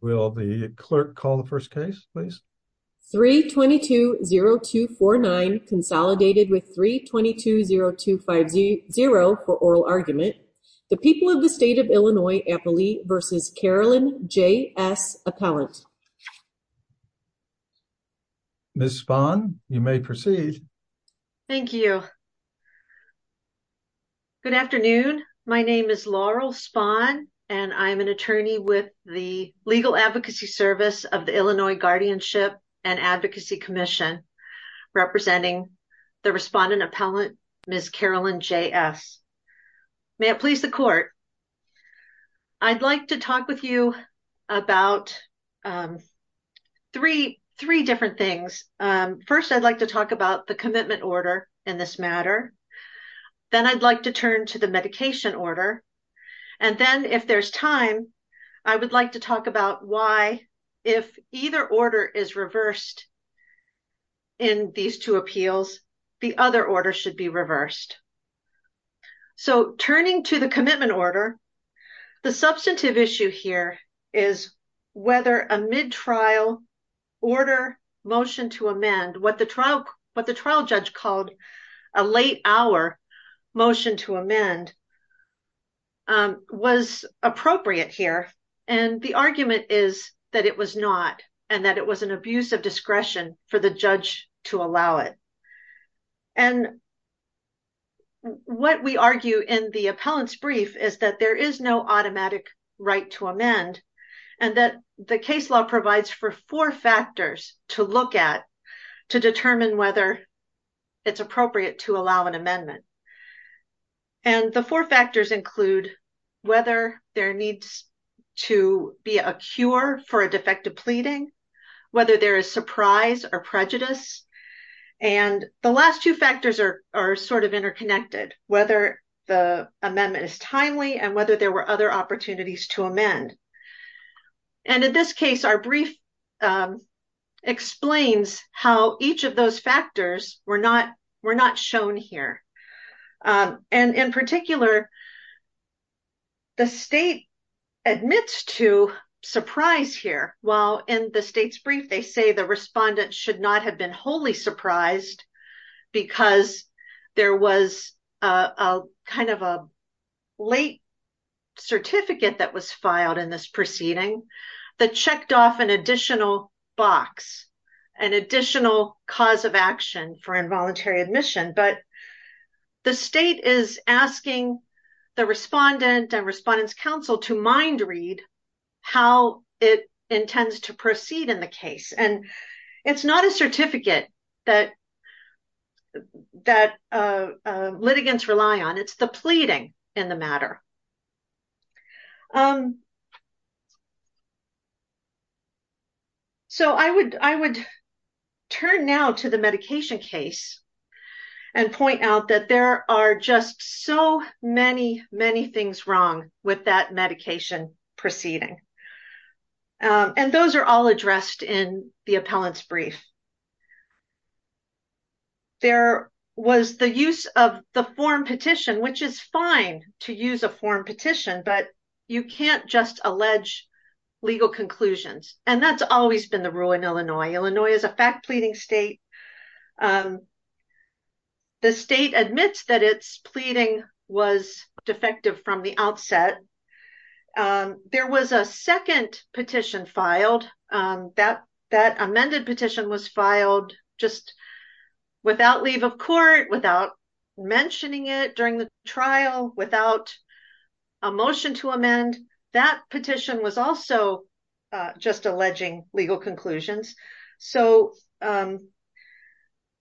Will the clerk call the first case please? 3-22-0249 consolidated with 3-22-0250 for oral argument. The people of the state of Illinois, Applee v. Carolyn J.S. Appellant. Ms. Spahn, you may proceed. Thank you. Good afternoon. My name is Laurel Spahn and I am an attorney with the Legal Advocacy Service of the Illinois Guardianship and Advocacy Commission representing the respondent appellant Ms. Carolyn J.S. May it please the court. I'd like to talk with you about three different things. First I'd like to talk about the commitment order in this matter. Then I'd like to turn to the medication order and then if there's time I would like to talk about why if either order is reversed in these two appeals the other order should be reversed. So turning to the commitment order the substantive issue here is whether a mid-trial order motion to amend what the trial what the trial judge called a late hour motion to amend was appropriate here and the argument is that it was not and that it was an abuse of discretion for the judge to allow it. And what we argue in the appellant's brief is that there is no automatic right to amend and that the case law provides for four factors to look at to determine whether it's appropriate to allow an amendment. And the four factors include whether there needs to be a cure for a defective pleading, whether there is surprise or prejudice and the last two factors are are sort of interconnected whether the amendment is timely and whether there were other opportunities to amend. And in this case our brief explains how each of those factors were not were not shown here and in particular the state admits to surprise here while in the state's brief they say the respondent should not have been wholly surprised because there was a kind of a late certificate that was filed in this proceeding that checked off an additional box an additional cause of action for involuntary admission but the state is asking the respondent and respondents council to mind read how it intends to proceed in the case and it's not a certificate that that litigants rely on it's the pleading in the matter. So I would I would turn now to the medication case and point out that there are just so many many things wrong with that medication proceeding and those are all addressed in the appellant's brief. There was the use of the form petition which is fine to use a form petition but you can't just allege legal conclusions and that's always been the rule in Illinois. Illinois is a fact pleading state. The state admits that its pleading was defective from the outset. There was a second petition filed that that amended petition was filed just without leave of court without mentioning it during the trial without a motion to amend that petition was also just alleging legal conclusions so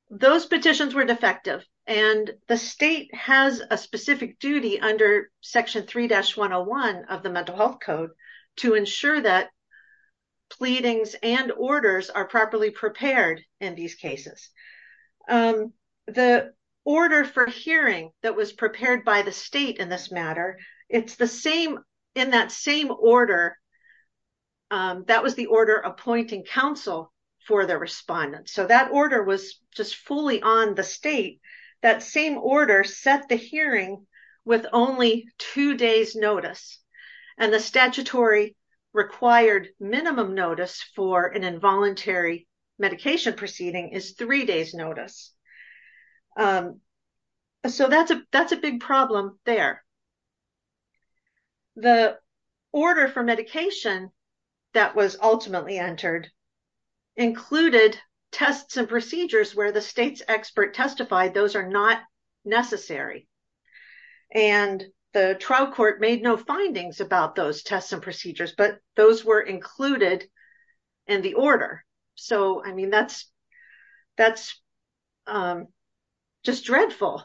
those petitions were defective and the state has a specific duty under section 3-101 of the mental health code to ensure that pleadings and orders are properly prepared in these cases. The order for hearing that was prepared by the state in this matter it's the same in that same order that was the order appointing counsel for the respondent so that order was just fully on the state that same order set the hearing with only two days notice and the statutory required minimum notice for an involuntary medication proceeding is three days notice so that's a that's a big problem there. The order for medication that was ultimately entered included tests and procedures where the state's expert testified those are not necessary and the trial court made no findings about those tests and procedures but those were included in the order so I mean that's that's just dreadful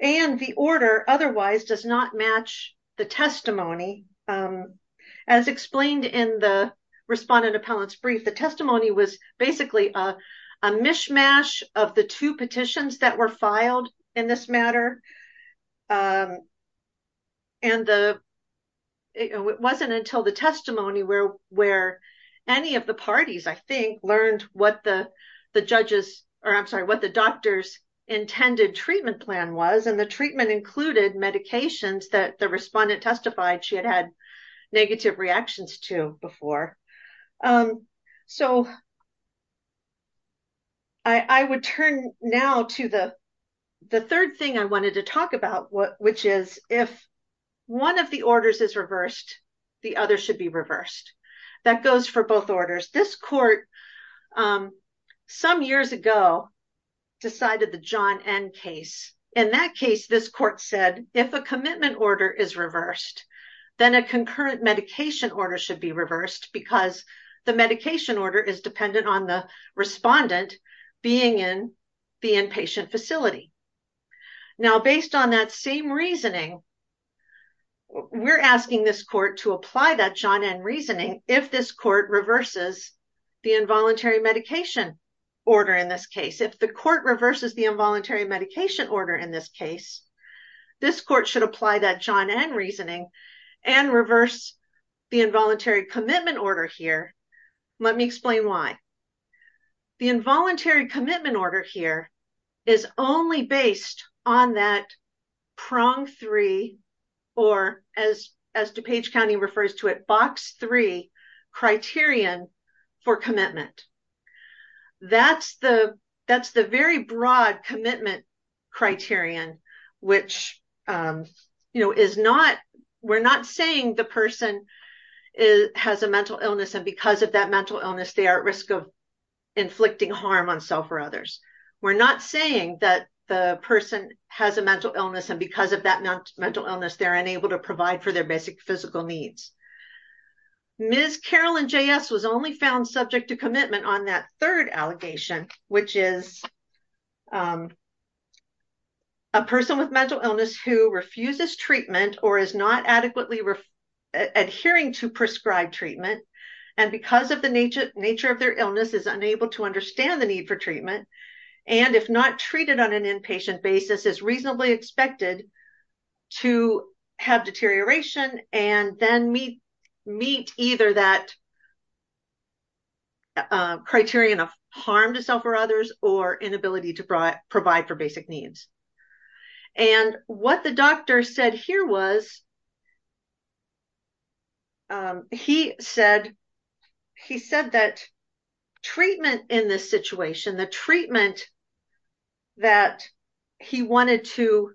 and the order otherwise does not match the testimony as explained in the respondent appellant's brief the testimony was basically a and the it wasn't until the testimony where where any of the parties I think learned what the the judges or I'm sorry what the doctor's intended treatment plan was and the treatment included medications that the respondent testified she had had negative reactions to before so I would turn now to the the third thing I wanted to talk about what which is if one of the orders is reversed the other should be reversed that goes for both orders this court some years ago decided the John N case in that case this court said if a commitment order is reversed then a concurrent medication order should be reversed because the medication order is dependent on the respondent being in the inpatient facility now based on that same reasoning we're asking this court to apply that John N reasoning if this court reverses the involuntary medication order in this case if the court reverses the involuntary medication order in this case this court should apply that John N reasoning and reverse the involuntary commitment order here let me explain why the involuntary commitment order here is only based on that prong three or as as DuPage County refers to it box three criterion for commitment that's the that's the very broad commitment criterion which you know is not we're not saying the person is has a mental illness and because of that mental illness they are at risk of inflicting harm on self or others we're not saying that the person has a mental illness and because of that mental illness they're unable to provide for their basic physical needs Ms. Carolyn J.S. was only found subject to commitment on that third allegation which is a person with mental illness who refuses treatment or is not adequately adhering to prescribed treatment and because of the nature of their illness is unable to understand the need for treatment and if not treated on an inpatient basis is reasonably expected to have deterioration and then meet meet either that or inability to provide for basic needs and what the doctor said here was he said he said that treatment in this situation the treatment that he wanted to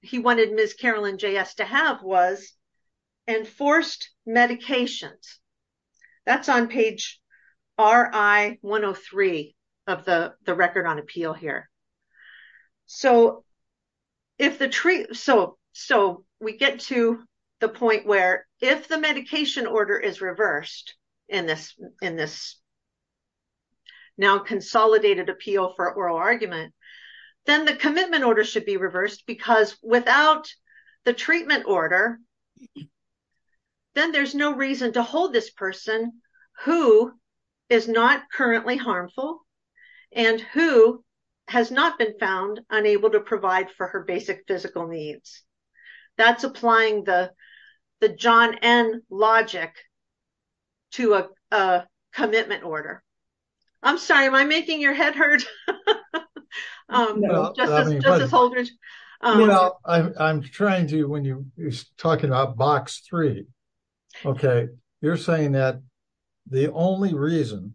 he wanted Ms. Carolyn J.S. to have was enforced medications that's on page ri 103 of the the record on appeal here so if the tree so so we get to the point where if the medication order is reversed in this in this now consolidated appeal for oral argument then the commitment order should be reversed because without the treatment order then there's no reason to hold this person who is not currently harmful and who has not been found unable to provide for her basic physical needs that's applying the the John N. logic to a commitment order I'm sorry am I making your head hurt you know I'm trying to when you're talking about box three okay you're saying that the only reason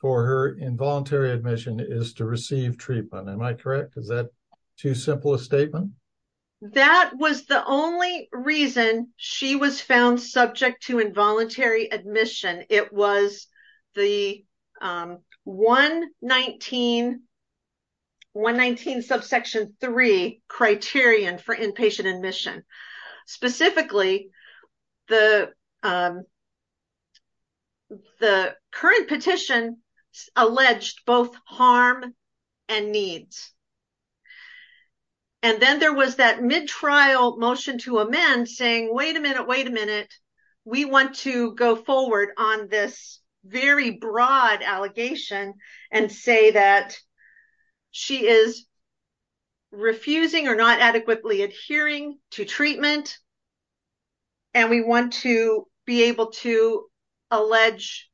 for her involuntary admission is to receive treatment am I correct is that too simple a statement that was the only reason she was found subject to involuntary admission it was the 119 119 subsection 3 criterion for inpatient admission specifically the the current petition alleged both harm and needs and then there was that mid-trial motion to amend saying wait a minute wait a minute we want to go forward on this very broad allegation and say that she is be able to allege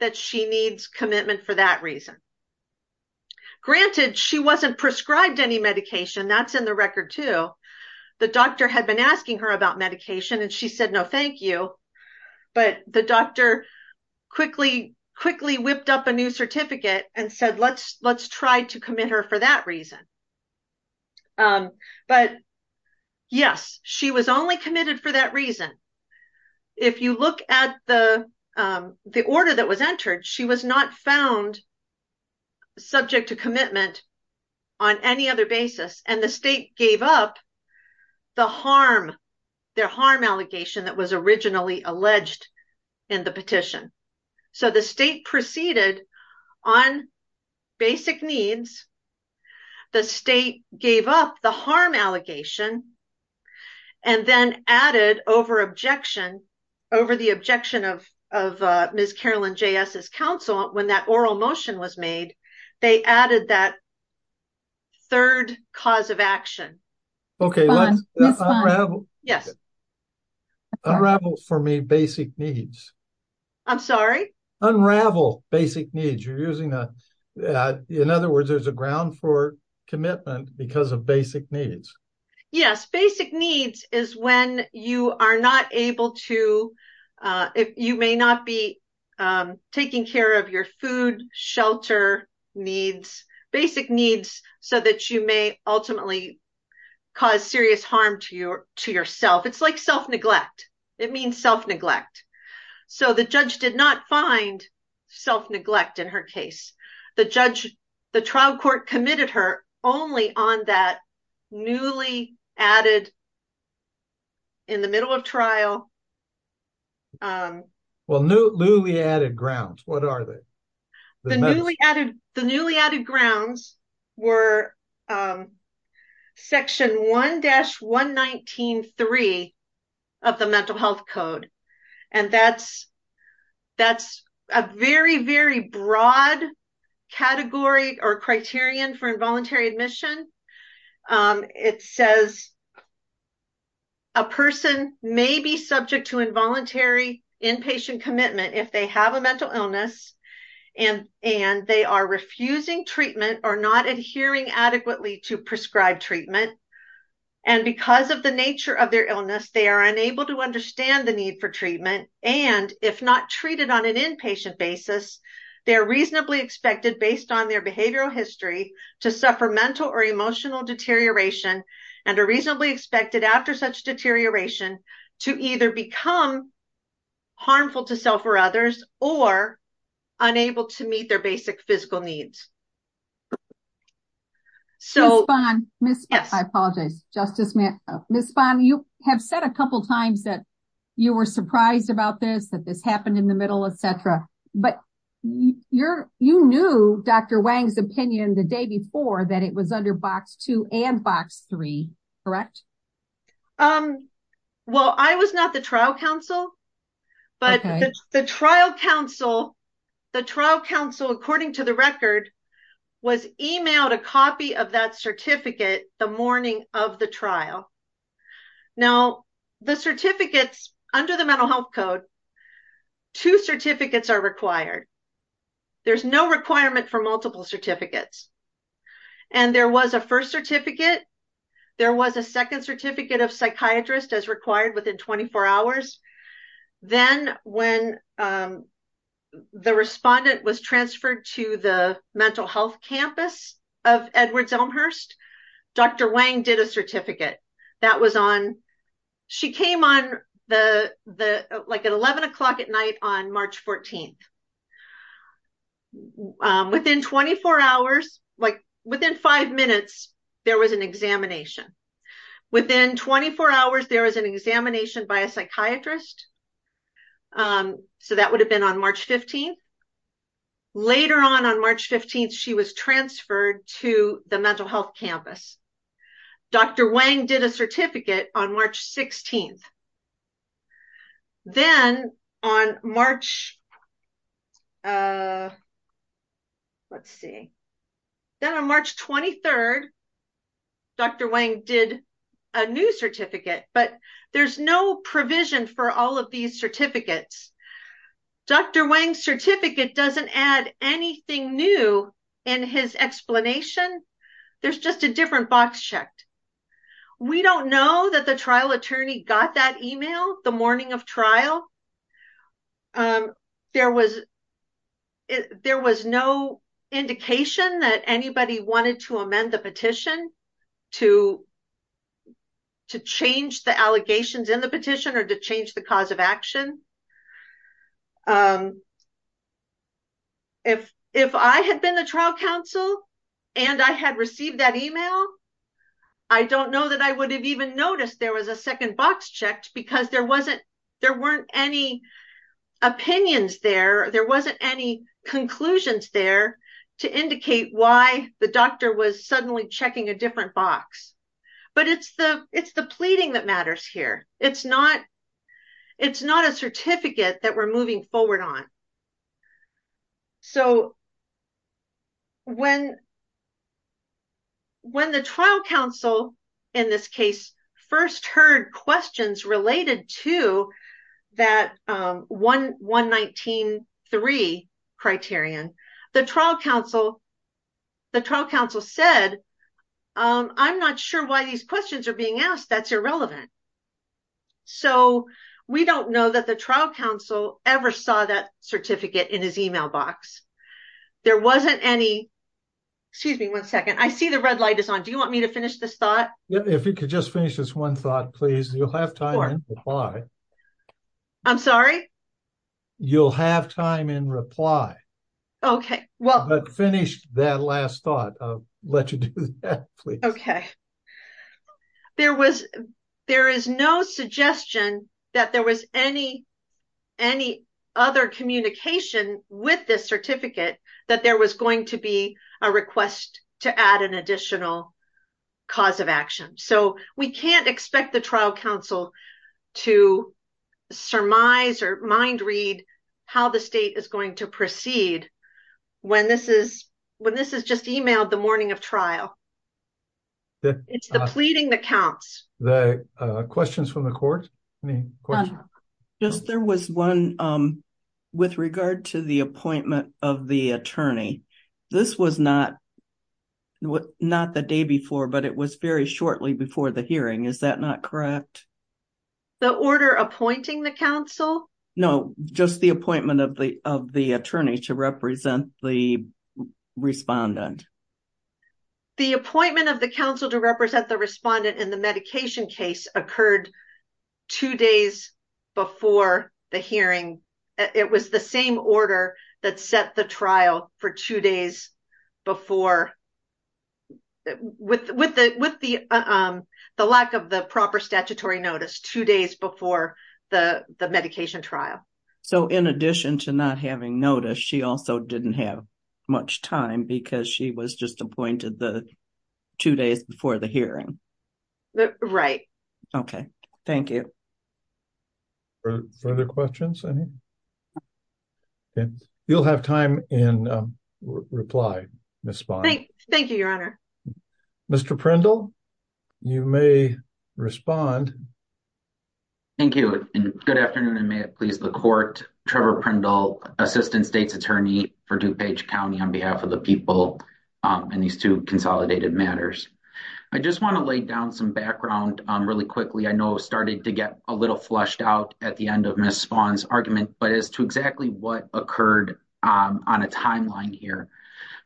that she needs commitment for that reason granted she wasn't prescribed any medication that's in the record too the doctor had been asking her about medication and she said no thank you but the doctor quickly quickly whipped up a new certificate and said let's let's try to commit her for that reason but yes she was only committed for that reason if you look at the the order that was entered she was not found subject to commitment on any other basis and the state gave up the harm their harm allegation that was originally alleged in the petition so the state proceeded on basic needs the state gave up the harm allegation and then added over objection over the objection of of uh ms carolyn j s's counsel when that oral motion was made they added that third cause of action okay yes unravel for me basic needs i'm sorry unravel basic needs you're using a in other words there's a ground for commitment because of basic needs yes basic needs is when you are not able to uh if you may not be taking care of your food shelter needs basic needs so that you may ultimately cause serious harm to you to yourself it's like self-neglect it means self-neglect so the judge did not find self-neglect in her case the judge the trial court committed her only on that newly added in the middle of trial um well new newly added grounds what are they the newly added the that's a very very broad category or criterion for involuntary admission um it says a person may be subject to involuntary inpatient commitment if they have a mental illness and and they are refusing treatment or not adhering adequately to prescribed treatment and because of the nature of their illness they are unable to understand the need for treatment and if not treated on an inpatient basis they are reasonably expected based on their behavioral history to suffer mental or emotional deterioration and are reasonably expected after such deterioration to either become harmful to self or others or unable to meet their basic physical needs so fine miss yes i apologize justice miss bond you have said a couple times that you were surprised about this that this happened in the middle etc but you're you knew dr wang's opinion the day before that it was under box two and box three correct um well i was not the trial council but the trial council the trial council according to the record was emailed a copy of that certificate the morning of the trial now the certificates under the mental health code two certificates are required there's no requirement for multiple certificates and there was a first certificate there was a second certificate of psychiatrist as required within 24 hours then when um the respondent was transferred to the mental health campus of edwards elmhurst dr wang did a certificate that was on she came on the the like at 11 o'clock at night on march 14th within 24 hours like within five minutes there was an examination within 24 hours there was an examination by a psychiatrist so that would have been on march 15th later on march 15th she was transferred to the mental health campus dr wang did a certificate on march 16th then on march uh let's see then on march 23rd dr wang did a new certificate but there's no provision for all of these certificates dr wang's certificate doesn't add anything new in his explanation there's just a different box checked we don't know that the trial attorney got that email the morning of trial um there was there was no indication that anybody wanted to amend the petition to to change the allegations in the petition or to change the cause of action um if if i had been the trial counsel and i had received that email i don't know that i would have even noticed there was a second box checked because there wasn't there weren't any opinions there there wasn't any conclusions there to indicate why the doctor was suddenly checking a different box but it's the it's the pleading that matters here it's not it's not a certificate that we're moving forward on so when when the trial counsel in this case first heard questions related to that um 119.3 criterion the trial counsel the trial counsel said um i'm not sure why these questions are being asked that's irrelevant so we don't know that the trial counsel ever saw that certificate in his email box there wasn't any excuse me one second i see the red light is on do you want me to finish this thought if you could just finish this one thought please you'll have time to reply i'm sorry you'll have time in reply okay well but finish that last thought i'll let you do that please okay there was there is no suggestion that there was any any other communication with this certificate that there was going to be a request to add an counsel to surmise or mind read how the state is going to proceed when this is when this is just emailed the morning of trial it's the pleading that counts the uh questions from the court yes there was one um with regard to the appointment of the attorney this was not what not the day before but it was very shortly before the hearing is that not correct the order appointing the council no just the appointment of the of the attorney to represent the respondent the appointment of the council to represent the respondent in the medication case occurred two days before the hearing it was the same order that set the trial for two days before with with the with the um the lack of the proper statutory notice two days before the the medication trial so in addition to not having notice she also didn't have much time because she was just appointed the two days before the hearing right okay thank you further questions any you'll have time in reply miss thank you your honor mr prindle you may respond thank you and good afternoon and may it please the court trevor prindle assistant state's attorney for dupage county on behalf of the people and these two consolidated matters i just want to lay down some background um really quickly i know started to get a little flushed out at the end of miss spawn's argument but as to exactly what occurred on a timeline here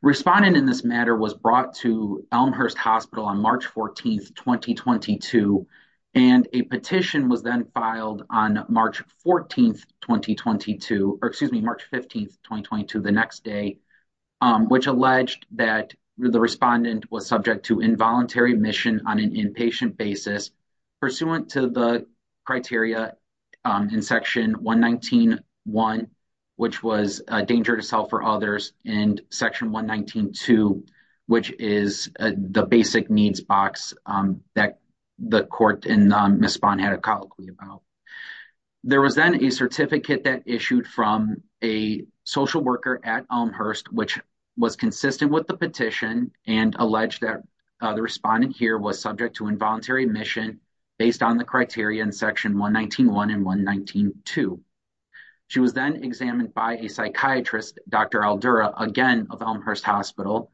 respondent in this matter was brought to elmhurst hospital on march 14th 2022 and a petition was then filed on march 14th 2022 or excuse me march 15th 2022 the next day which alleged that the respondent was subject to involuntary admission on an inpatient basis pursuant to the criteria in section 119.1 which was a danger to self or others and section 119.2 which is the basic needs box that the court and miss spawn had a colloquy about there was then a certificate that issued from a social worker at elmhurst which was consistent with the petition and alleged that the respondent here was subject to involuntary admission based on the criteria in section 119.1 and 119.2 she was then examined by a psychiatrist dr aldura again of elmhurst hospital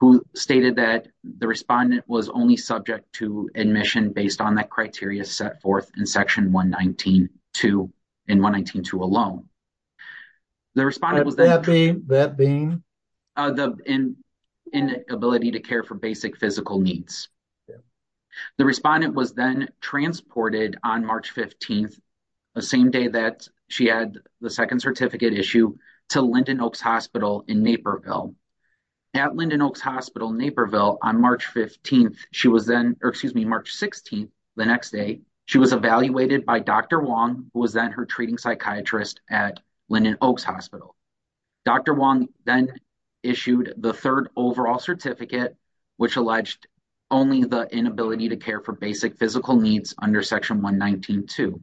who stated that the respondent was only subject to admission based on that criteria set forth in section 119.2 in 119.2 alone the respondent was that being that being uh the in inability to care for basic physical needs the respondent was then transported on march 15th the same day that she had the second on march 15th she was then or excuse me march 16th the next day she was evaluated by dr wong who was then her treating psychiatrist at lyndon oaks hospital dr wong then issued the third overall certificate which alleged only the inability to care for basic physical needs under section 119.2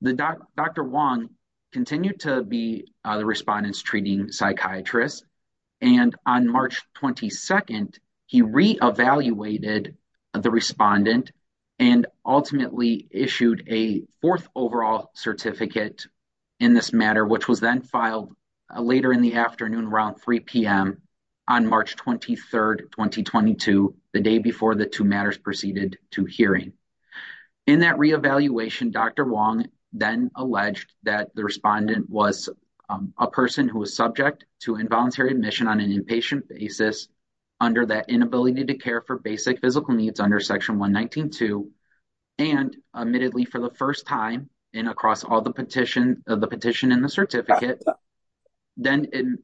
the dr wong continued to be the respondents treating psychiatrists and on march 22nd he re-evaluated the respondent and ultimately issued a fourth overall certificate in this matter which was then filed later in the afternoon around 3 p.m on march 23rd 2022 the day before the two matters proceeded to hearing in that re-evaluation dr wong then alleged that the respondent was a person who was subject to involuntary admission on an inpatient basis under that inability to care for basic physical needs under section 119.2 and admittedly for the first time in across all the petition of the petition in the certificate then in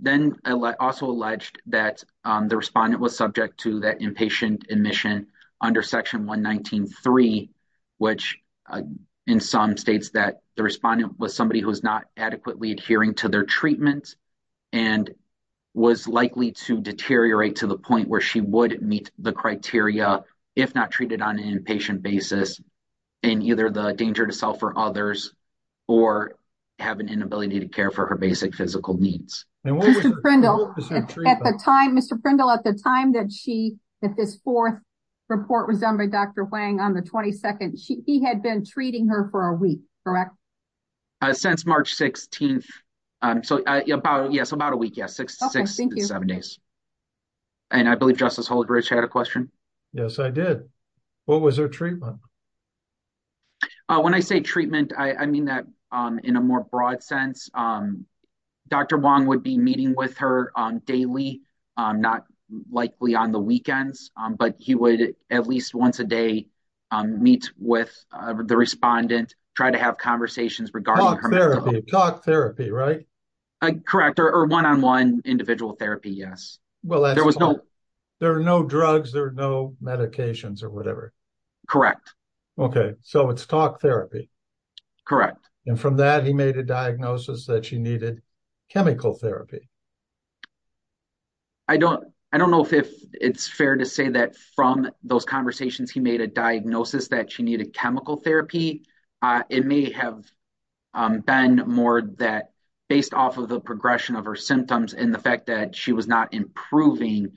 then i also alleged that the respondent was subject to that inpatient admission under section 119.3 which in some states that the respondent was somebody who's not adequately adhering to their treatment and was likely to deteriorate to the point where she would meet the criteria if not treated on an inpatient basis in either the danger to self or others or have an inability to care for her basic physical needs. Mr. Prindle at the time Mr. report was done by Dr. Wang on the 22nd she he had been treating her for a week correct? uh since march 16th um so about yes about a week yes six six seven days and i believe justice holdridge had a question yes i did what was her treatment uh when i say treatment i i mean that um in a more broad sense um dr wong would be meeting with her daily not likely on the weekends but he would at least once a day meet with the respondent try to have conversations regarding talk therapy right correct or one-on-one individual therapy yes well there was no there are no drugs there are no medications or whatever correct okay so it's talk therapy correct and from that he made a diagnosis that she needed chemical therapy i don't i don't know if it's fair to say that from those conversations he made a diagnosis that she needed chemical therapy uh it may have um been more that based off of the progression of her symptoms and the fact that she was not improving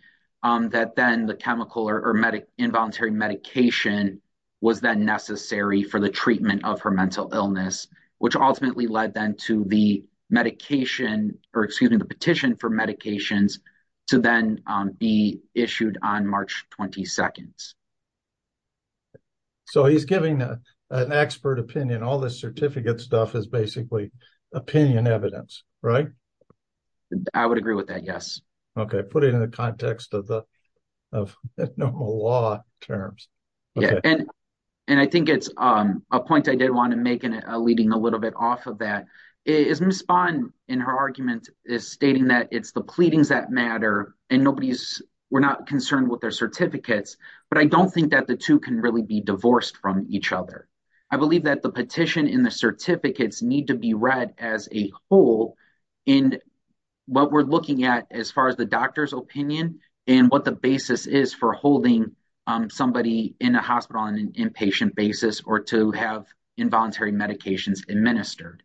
um that then the chemical or medic involuntary medication was then necessary for the treatment of her mental illness which ultimately led then to the medication or excuse me the petition for medications to then be issued on march 22nd so he's giving an expert opinion all this certificate stuff is basically opinion evidence right i would agree with that yes okay put it in the context of the of normal law terms yeah and and i think it's um a point i did want to make in a leading a little bit off of that is miss spawn in her argument is stating that it's the pleadings that matter and nobody's we're not concerned with their certificates but i don't think that the two can really be divorced from each other i believe that the petition in the certificates need to be read as a whole in what we're looking at as far as the doctor's opinion and what the basis is for holding um in a hospital on an inpatient basis or to have involuntary medications administered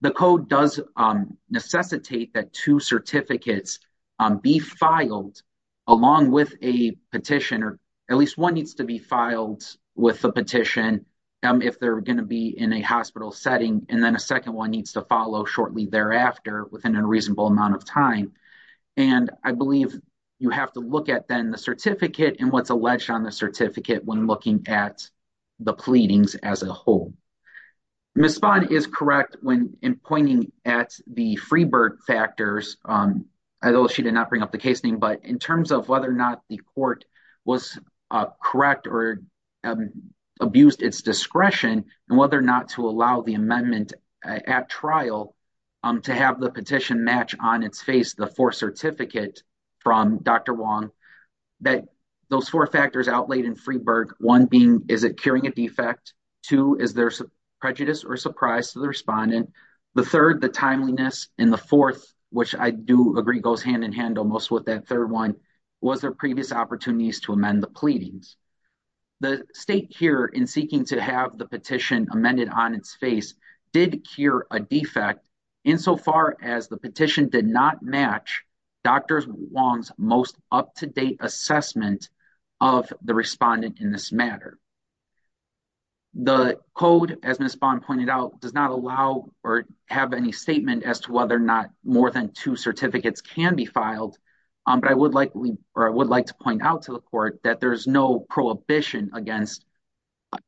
the code does um necessitate that two certificates um be filed along with a petition or at least one needs to be filed with the petition um if they're going to be in a hospital setting and then a second one needs to follow shortly thereafter within a reasonable amount of time and i believe you have to look at then the certificate and what's alleged on the certificate when looking at the pleadings as a whole miss spawn is correct when in pointing at the free bird factors um although she did not bring up the case name but in terms of whether or not the court was correct or abused its discretion and whether or not to allow the amendment at trial um to have the petition match on its face the fourth certificate from dr wong that those four factors outlaid in freeberg one being is it curing a defect two is there prejudice or surprise to the respondent the third the timeliness and the fourth which i do agree goes hand in hand almost with that third one was their previous opportunities to amend the pleadings the state here in seeking to have the petition did not match dr wong's most up-to-date assessment of the respondent in this matter the code as miss bond pointed out does not allow or have any statement as to whether or not more than two certificates can be filed um but i would like we or i would like to point out to the court that there's no prohibition against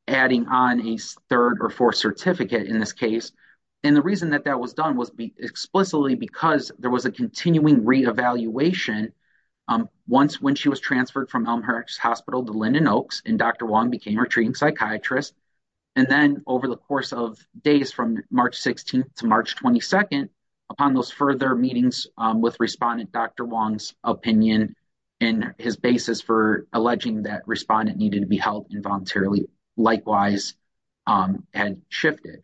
adding on a third or fourth certificate in this case and the reason that that was done was explicitly because there was a continuing reevaluation um once when she was transferred from elmhurst hospital to linden oaks and dr wong became a treating psychiatrist and then over the course of days from march 16th to march 22nd upon those further meetings um with respondent dr wong's opinion and his basis for alleging that respondent to be held involuntarily likewise um had shifted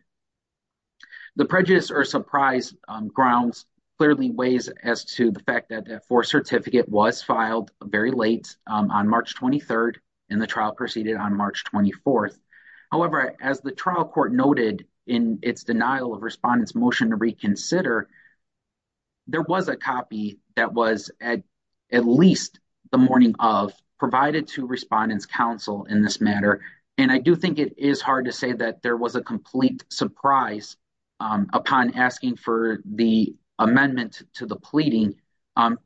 the prejudice or surprise grounds clearly weighs as to the fact that that fourth certificate was filed very late on march 23rd and the trial proceeded on march 24th however as the trial court noted in its denial of respondents motion to in this matter and i do think it is hard to say that there was a complete surprise upon asking for the amendment to the pleading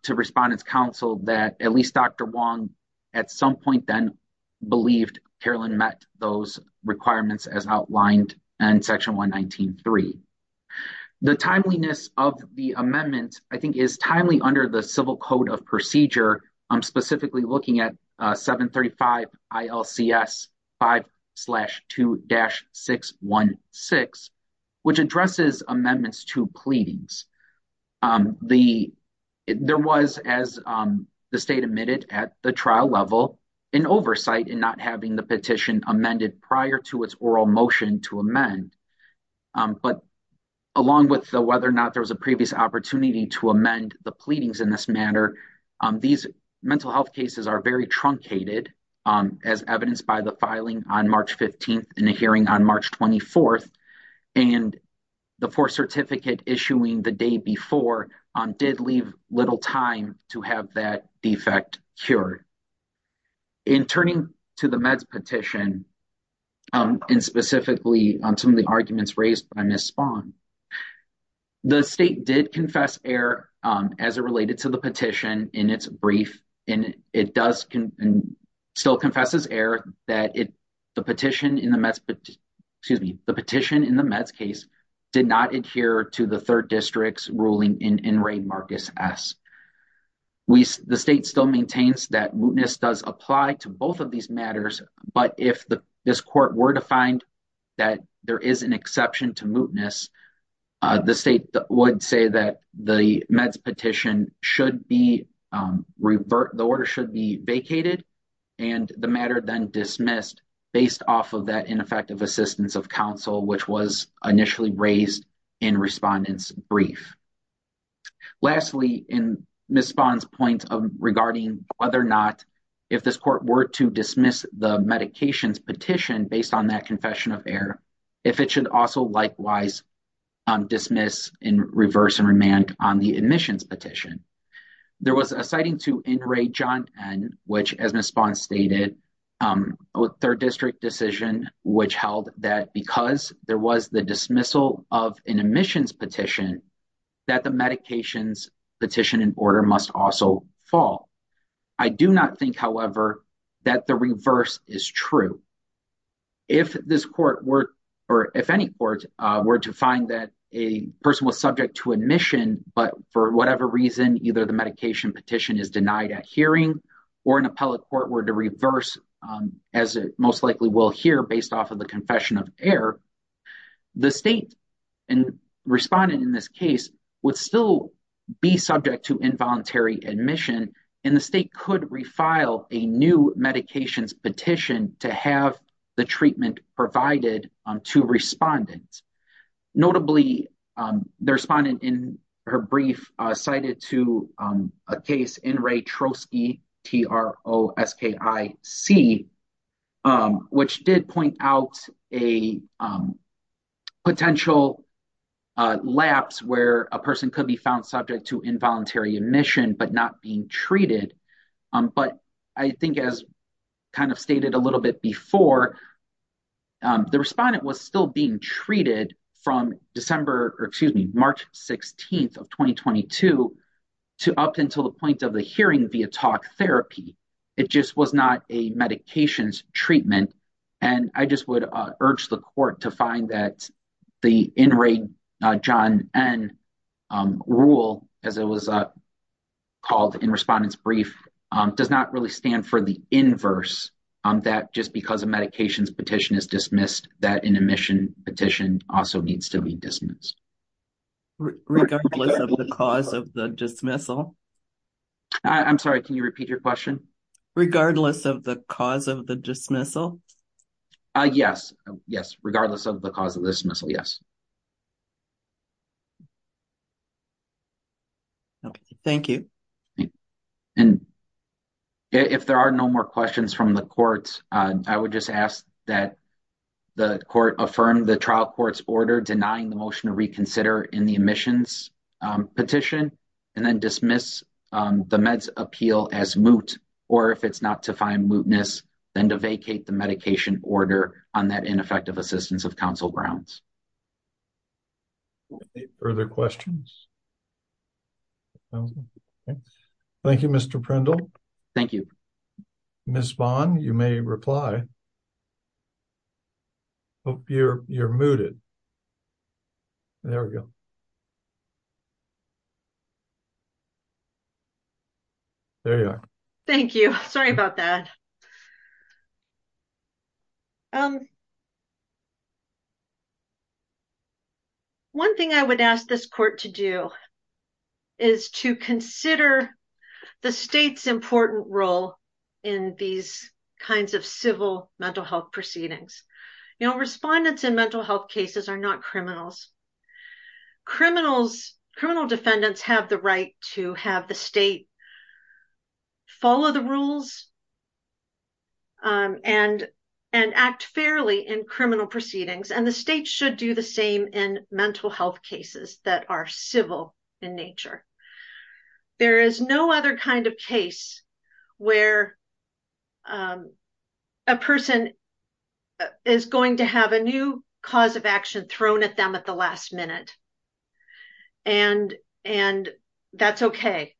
to respondents council that at least dr wong at some point then believed carolyn met those requirements as outlined in section 119 3 the timeliness of the amendment i think is timely under the civil code of procedure i'm specifically looking at 735 ilcs 5 2-616 which addresses amendments to pleadings um the there was as um the state admitted at the trial level an oversight in not having the petition amended prior to its oral motion to amend but along with the whether or not there was a previous opportunity to amend the pleadings in this matter um these mental health cases are very truncated um as evidenced by the filing on march 15th in a hearing on march 24th and the fourth certificate issuing the day before um did leave little time to have that defect cured in turning to the meds petition um and specifically on some of the arguments raised by miss spawn um the state did confess air um as it related to the petition in its brief and it does can still confesses air that it the petition in the mess but excuse me the petition in the meds case did not adhere to the third district's ruling in in ray marcus s we the state still maintains that mootness does apply to both of these matters but if the this court were to find that there is an exception to mootness uh the state would say that the meds petition should be um revert the order should be vacated and the matter then dismissed based off of that ineffective assistance of counsel which was initially raised in respondents brief lastly in miss spawn's point of regarding whether or not if this court were to dismiss the medications petition based on that confession of air if it should also likewise um dismiss in reverse and remand on the admissions petition there was a citing to in ray john n which as response stated um with third district decision which held that because there was the dismissal of an admissions petition that the medications petition in order must also fall i do not think however that the reverse is true if this court were or if any court were to find that a person was subject to admission but for whatever reason either the medication petition is denied at hearing or an appellate court were to reverse as it most likely will hear based off of the confession of air the state and respondent in this case would still be subject to involuntary admission and the state could refile a new medications petition to have the treatment provided to respondents notably the respondent in her brief cited to a case in ray trotsky t-r-o-s-k-i-c which did point out a potential lapse where a person could be found subject to not being treated but i think as kind of stated a little bit before the respondent was still being treated from december or excuse me march 16th of 2022 to up until the point of the hearing via talk therapy it just was not a medications treatment and i just would urge the court to brief um does not really stand for the inverse um that just because a medications petition is dismissed that an admission petition also needs to be dismissed regardless of the cause of the dismissal i'm sorry can you repeat your question regardless of the cause of the dismissal uh yes yes regardless of the cause of the dismissal yes yes okay thank you and if there are no more questions from the court i would just ask that the court affirmed the trial court's order denying the motion to reconsider in the admissions petition and then dismiss the meds appeal as moot or if it's not to find mootness then to vacate the medication order on that ineffective assistance of council grounds further questions thank you mr prindle thank you miss bond you may reply hope you're you're mooted there we go there you are thank you sorry about that um one thing i would ask this court to do is to consider the state's important role in these kinds of civil mental health proceedings you know respondents in mental health cases are not criminals criminals criminal defendants have the right to have the state follow the rules and and act fairly in criminal proceedings and the state should do the same in mental health cases that are civil in nature there is no other kind of case where a person is going to have a new cause of action thrown at them at the last minute and and that's okay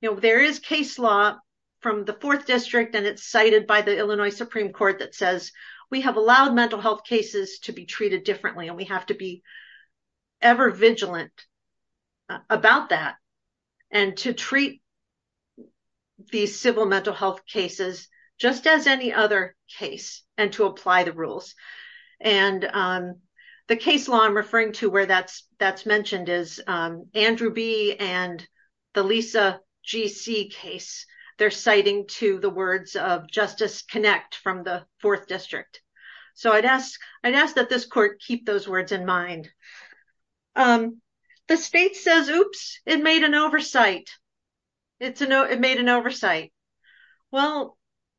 you know there is case law from the fourth district and it's cited by the illinois supreme court that says we have allowed mental health cases to be treated differently and we have to be ever vigilant about that and to treat these civil mental health cases just as other case and to apply the rules and the case law i'm referring to where that's that's mentioned is andrew b and the lisa gc case they're citing to the words of justice connect from the fourth district so i'd ask i'd ask that this court keep those words in mind um the state says oops it made an oversight it's a no it made an oversight well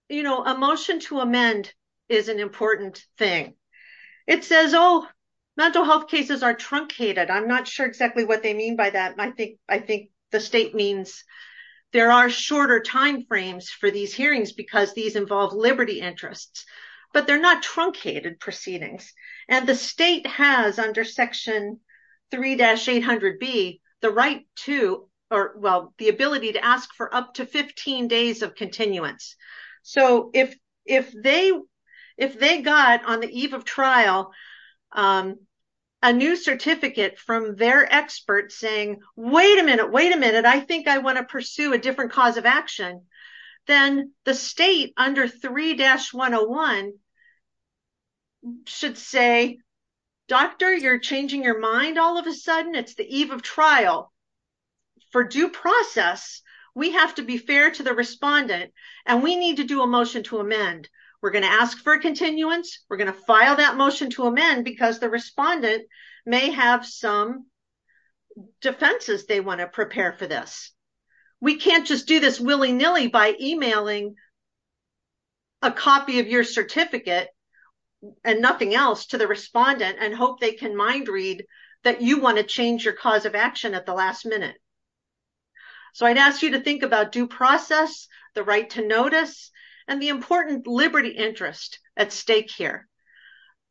you know a motion to amend is an important thing it says oh mental health cases are truncated i'm not sure exactly what they mean by that i think i think the state means there are shorter time frames for these hearings because these involve liberty interests but they're not truncated proceedings and the state has under section 3-800 b the right to or well the ability to ask for up to 15 days of continuance so if if they if they got on the eve of trial um a new certificate from their experts saying wait a minute wait a minute i think i want to pursue a different cause of action then the state under 3-101 should say doctor you're changing your mind all of a sudden it's the eve of trial for due process we have to be fair to the respondent and we need to do a motion to amend we're going to ask for continuance we're going to file that motion to amend because the by emailing a copy of your certificate and nothing else to the respondent and hope they can mind read that you want to change your cause of action at the last minute so i'd ask you to think about due process the right to notice and the important liberty interest at stake here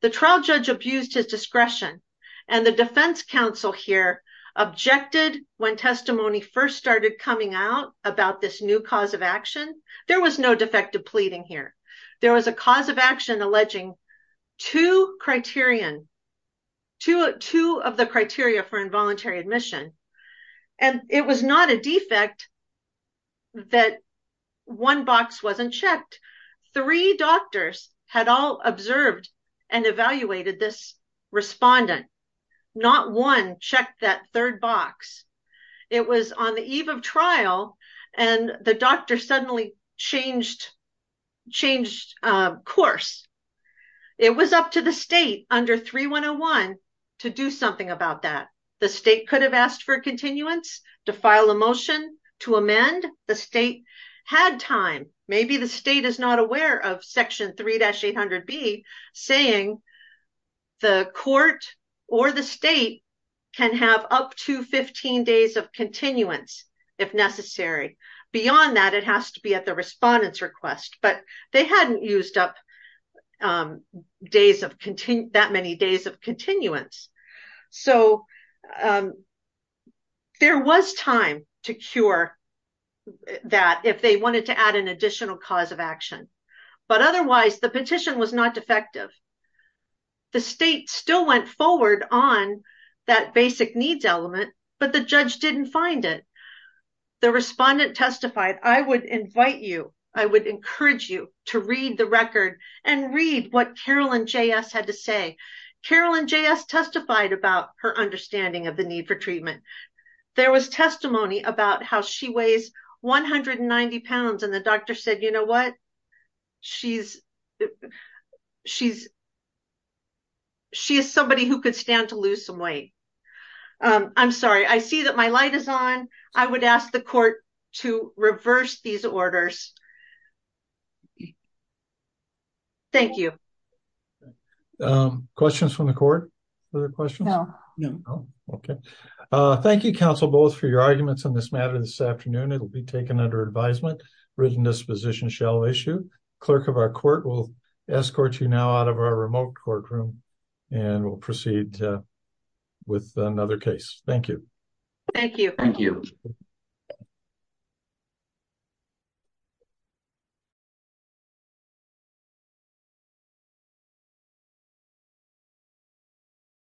the trial judge abused his discretion and the defense council here objected when testimony first started coming out about this new cause of action there was no defective pleading here there was a cause of action alleging two criterion two two of the criteria for involuntary admission and it was not a defect that one box wasn't checked three doctors had all observed and on the eve of trial and the doctor suddenly changed changed course it was up to the state under 3-101 to do something about that the state could have asked for continuance to file a motion to amend the state had time maybe the state is not aware of section 3-800-B saying the court or the state can have up to 15 days of continuance if necessary beyond that it has to be at the respondent's request but they hadn't used up days of continue that many days of continuance so there was time to cure that if they wanted to add an additional cause of action but otherwise the petition was not defective the state still went forward on that basic needs element but the judge didn't find it the respondent testified i would invite you i would encourage you to read the record and read what carolyn js had to say carolyn js testified about her understanding of the need for treatment there was testimony about how she weighs 190 pounds and the doctor said you know what she's she's she is somebody who could stand to lose some weight i'm sorry i see that my light is on i would ask the court to reverse these orders thank you questions from the court other questions no no okay uh thank you counsel for your arguments on this matter this afternoon it will be taken under advisement written disposition shall issue clerk of our court will escort you now out of our remote courtroom and we'll proceed with another case thank you thank you thank you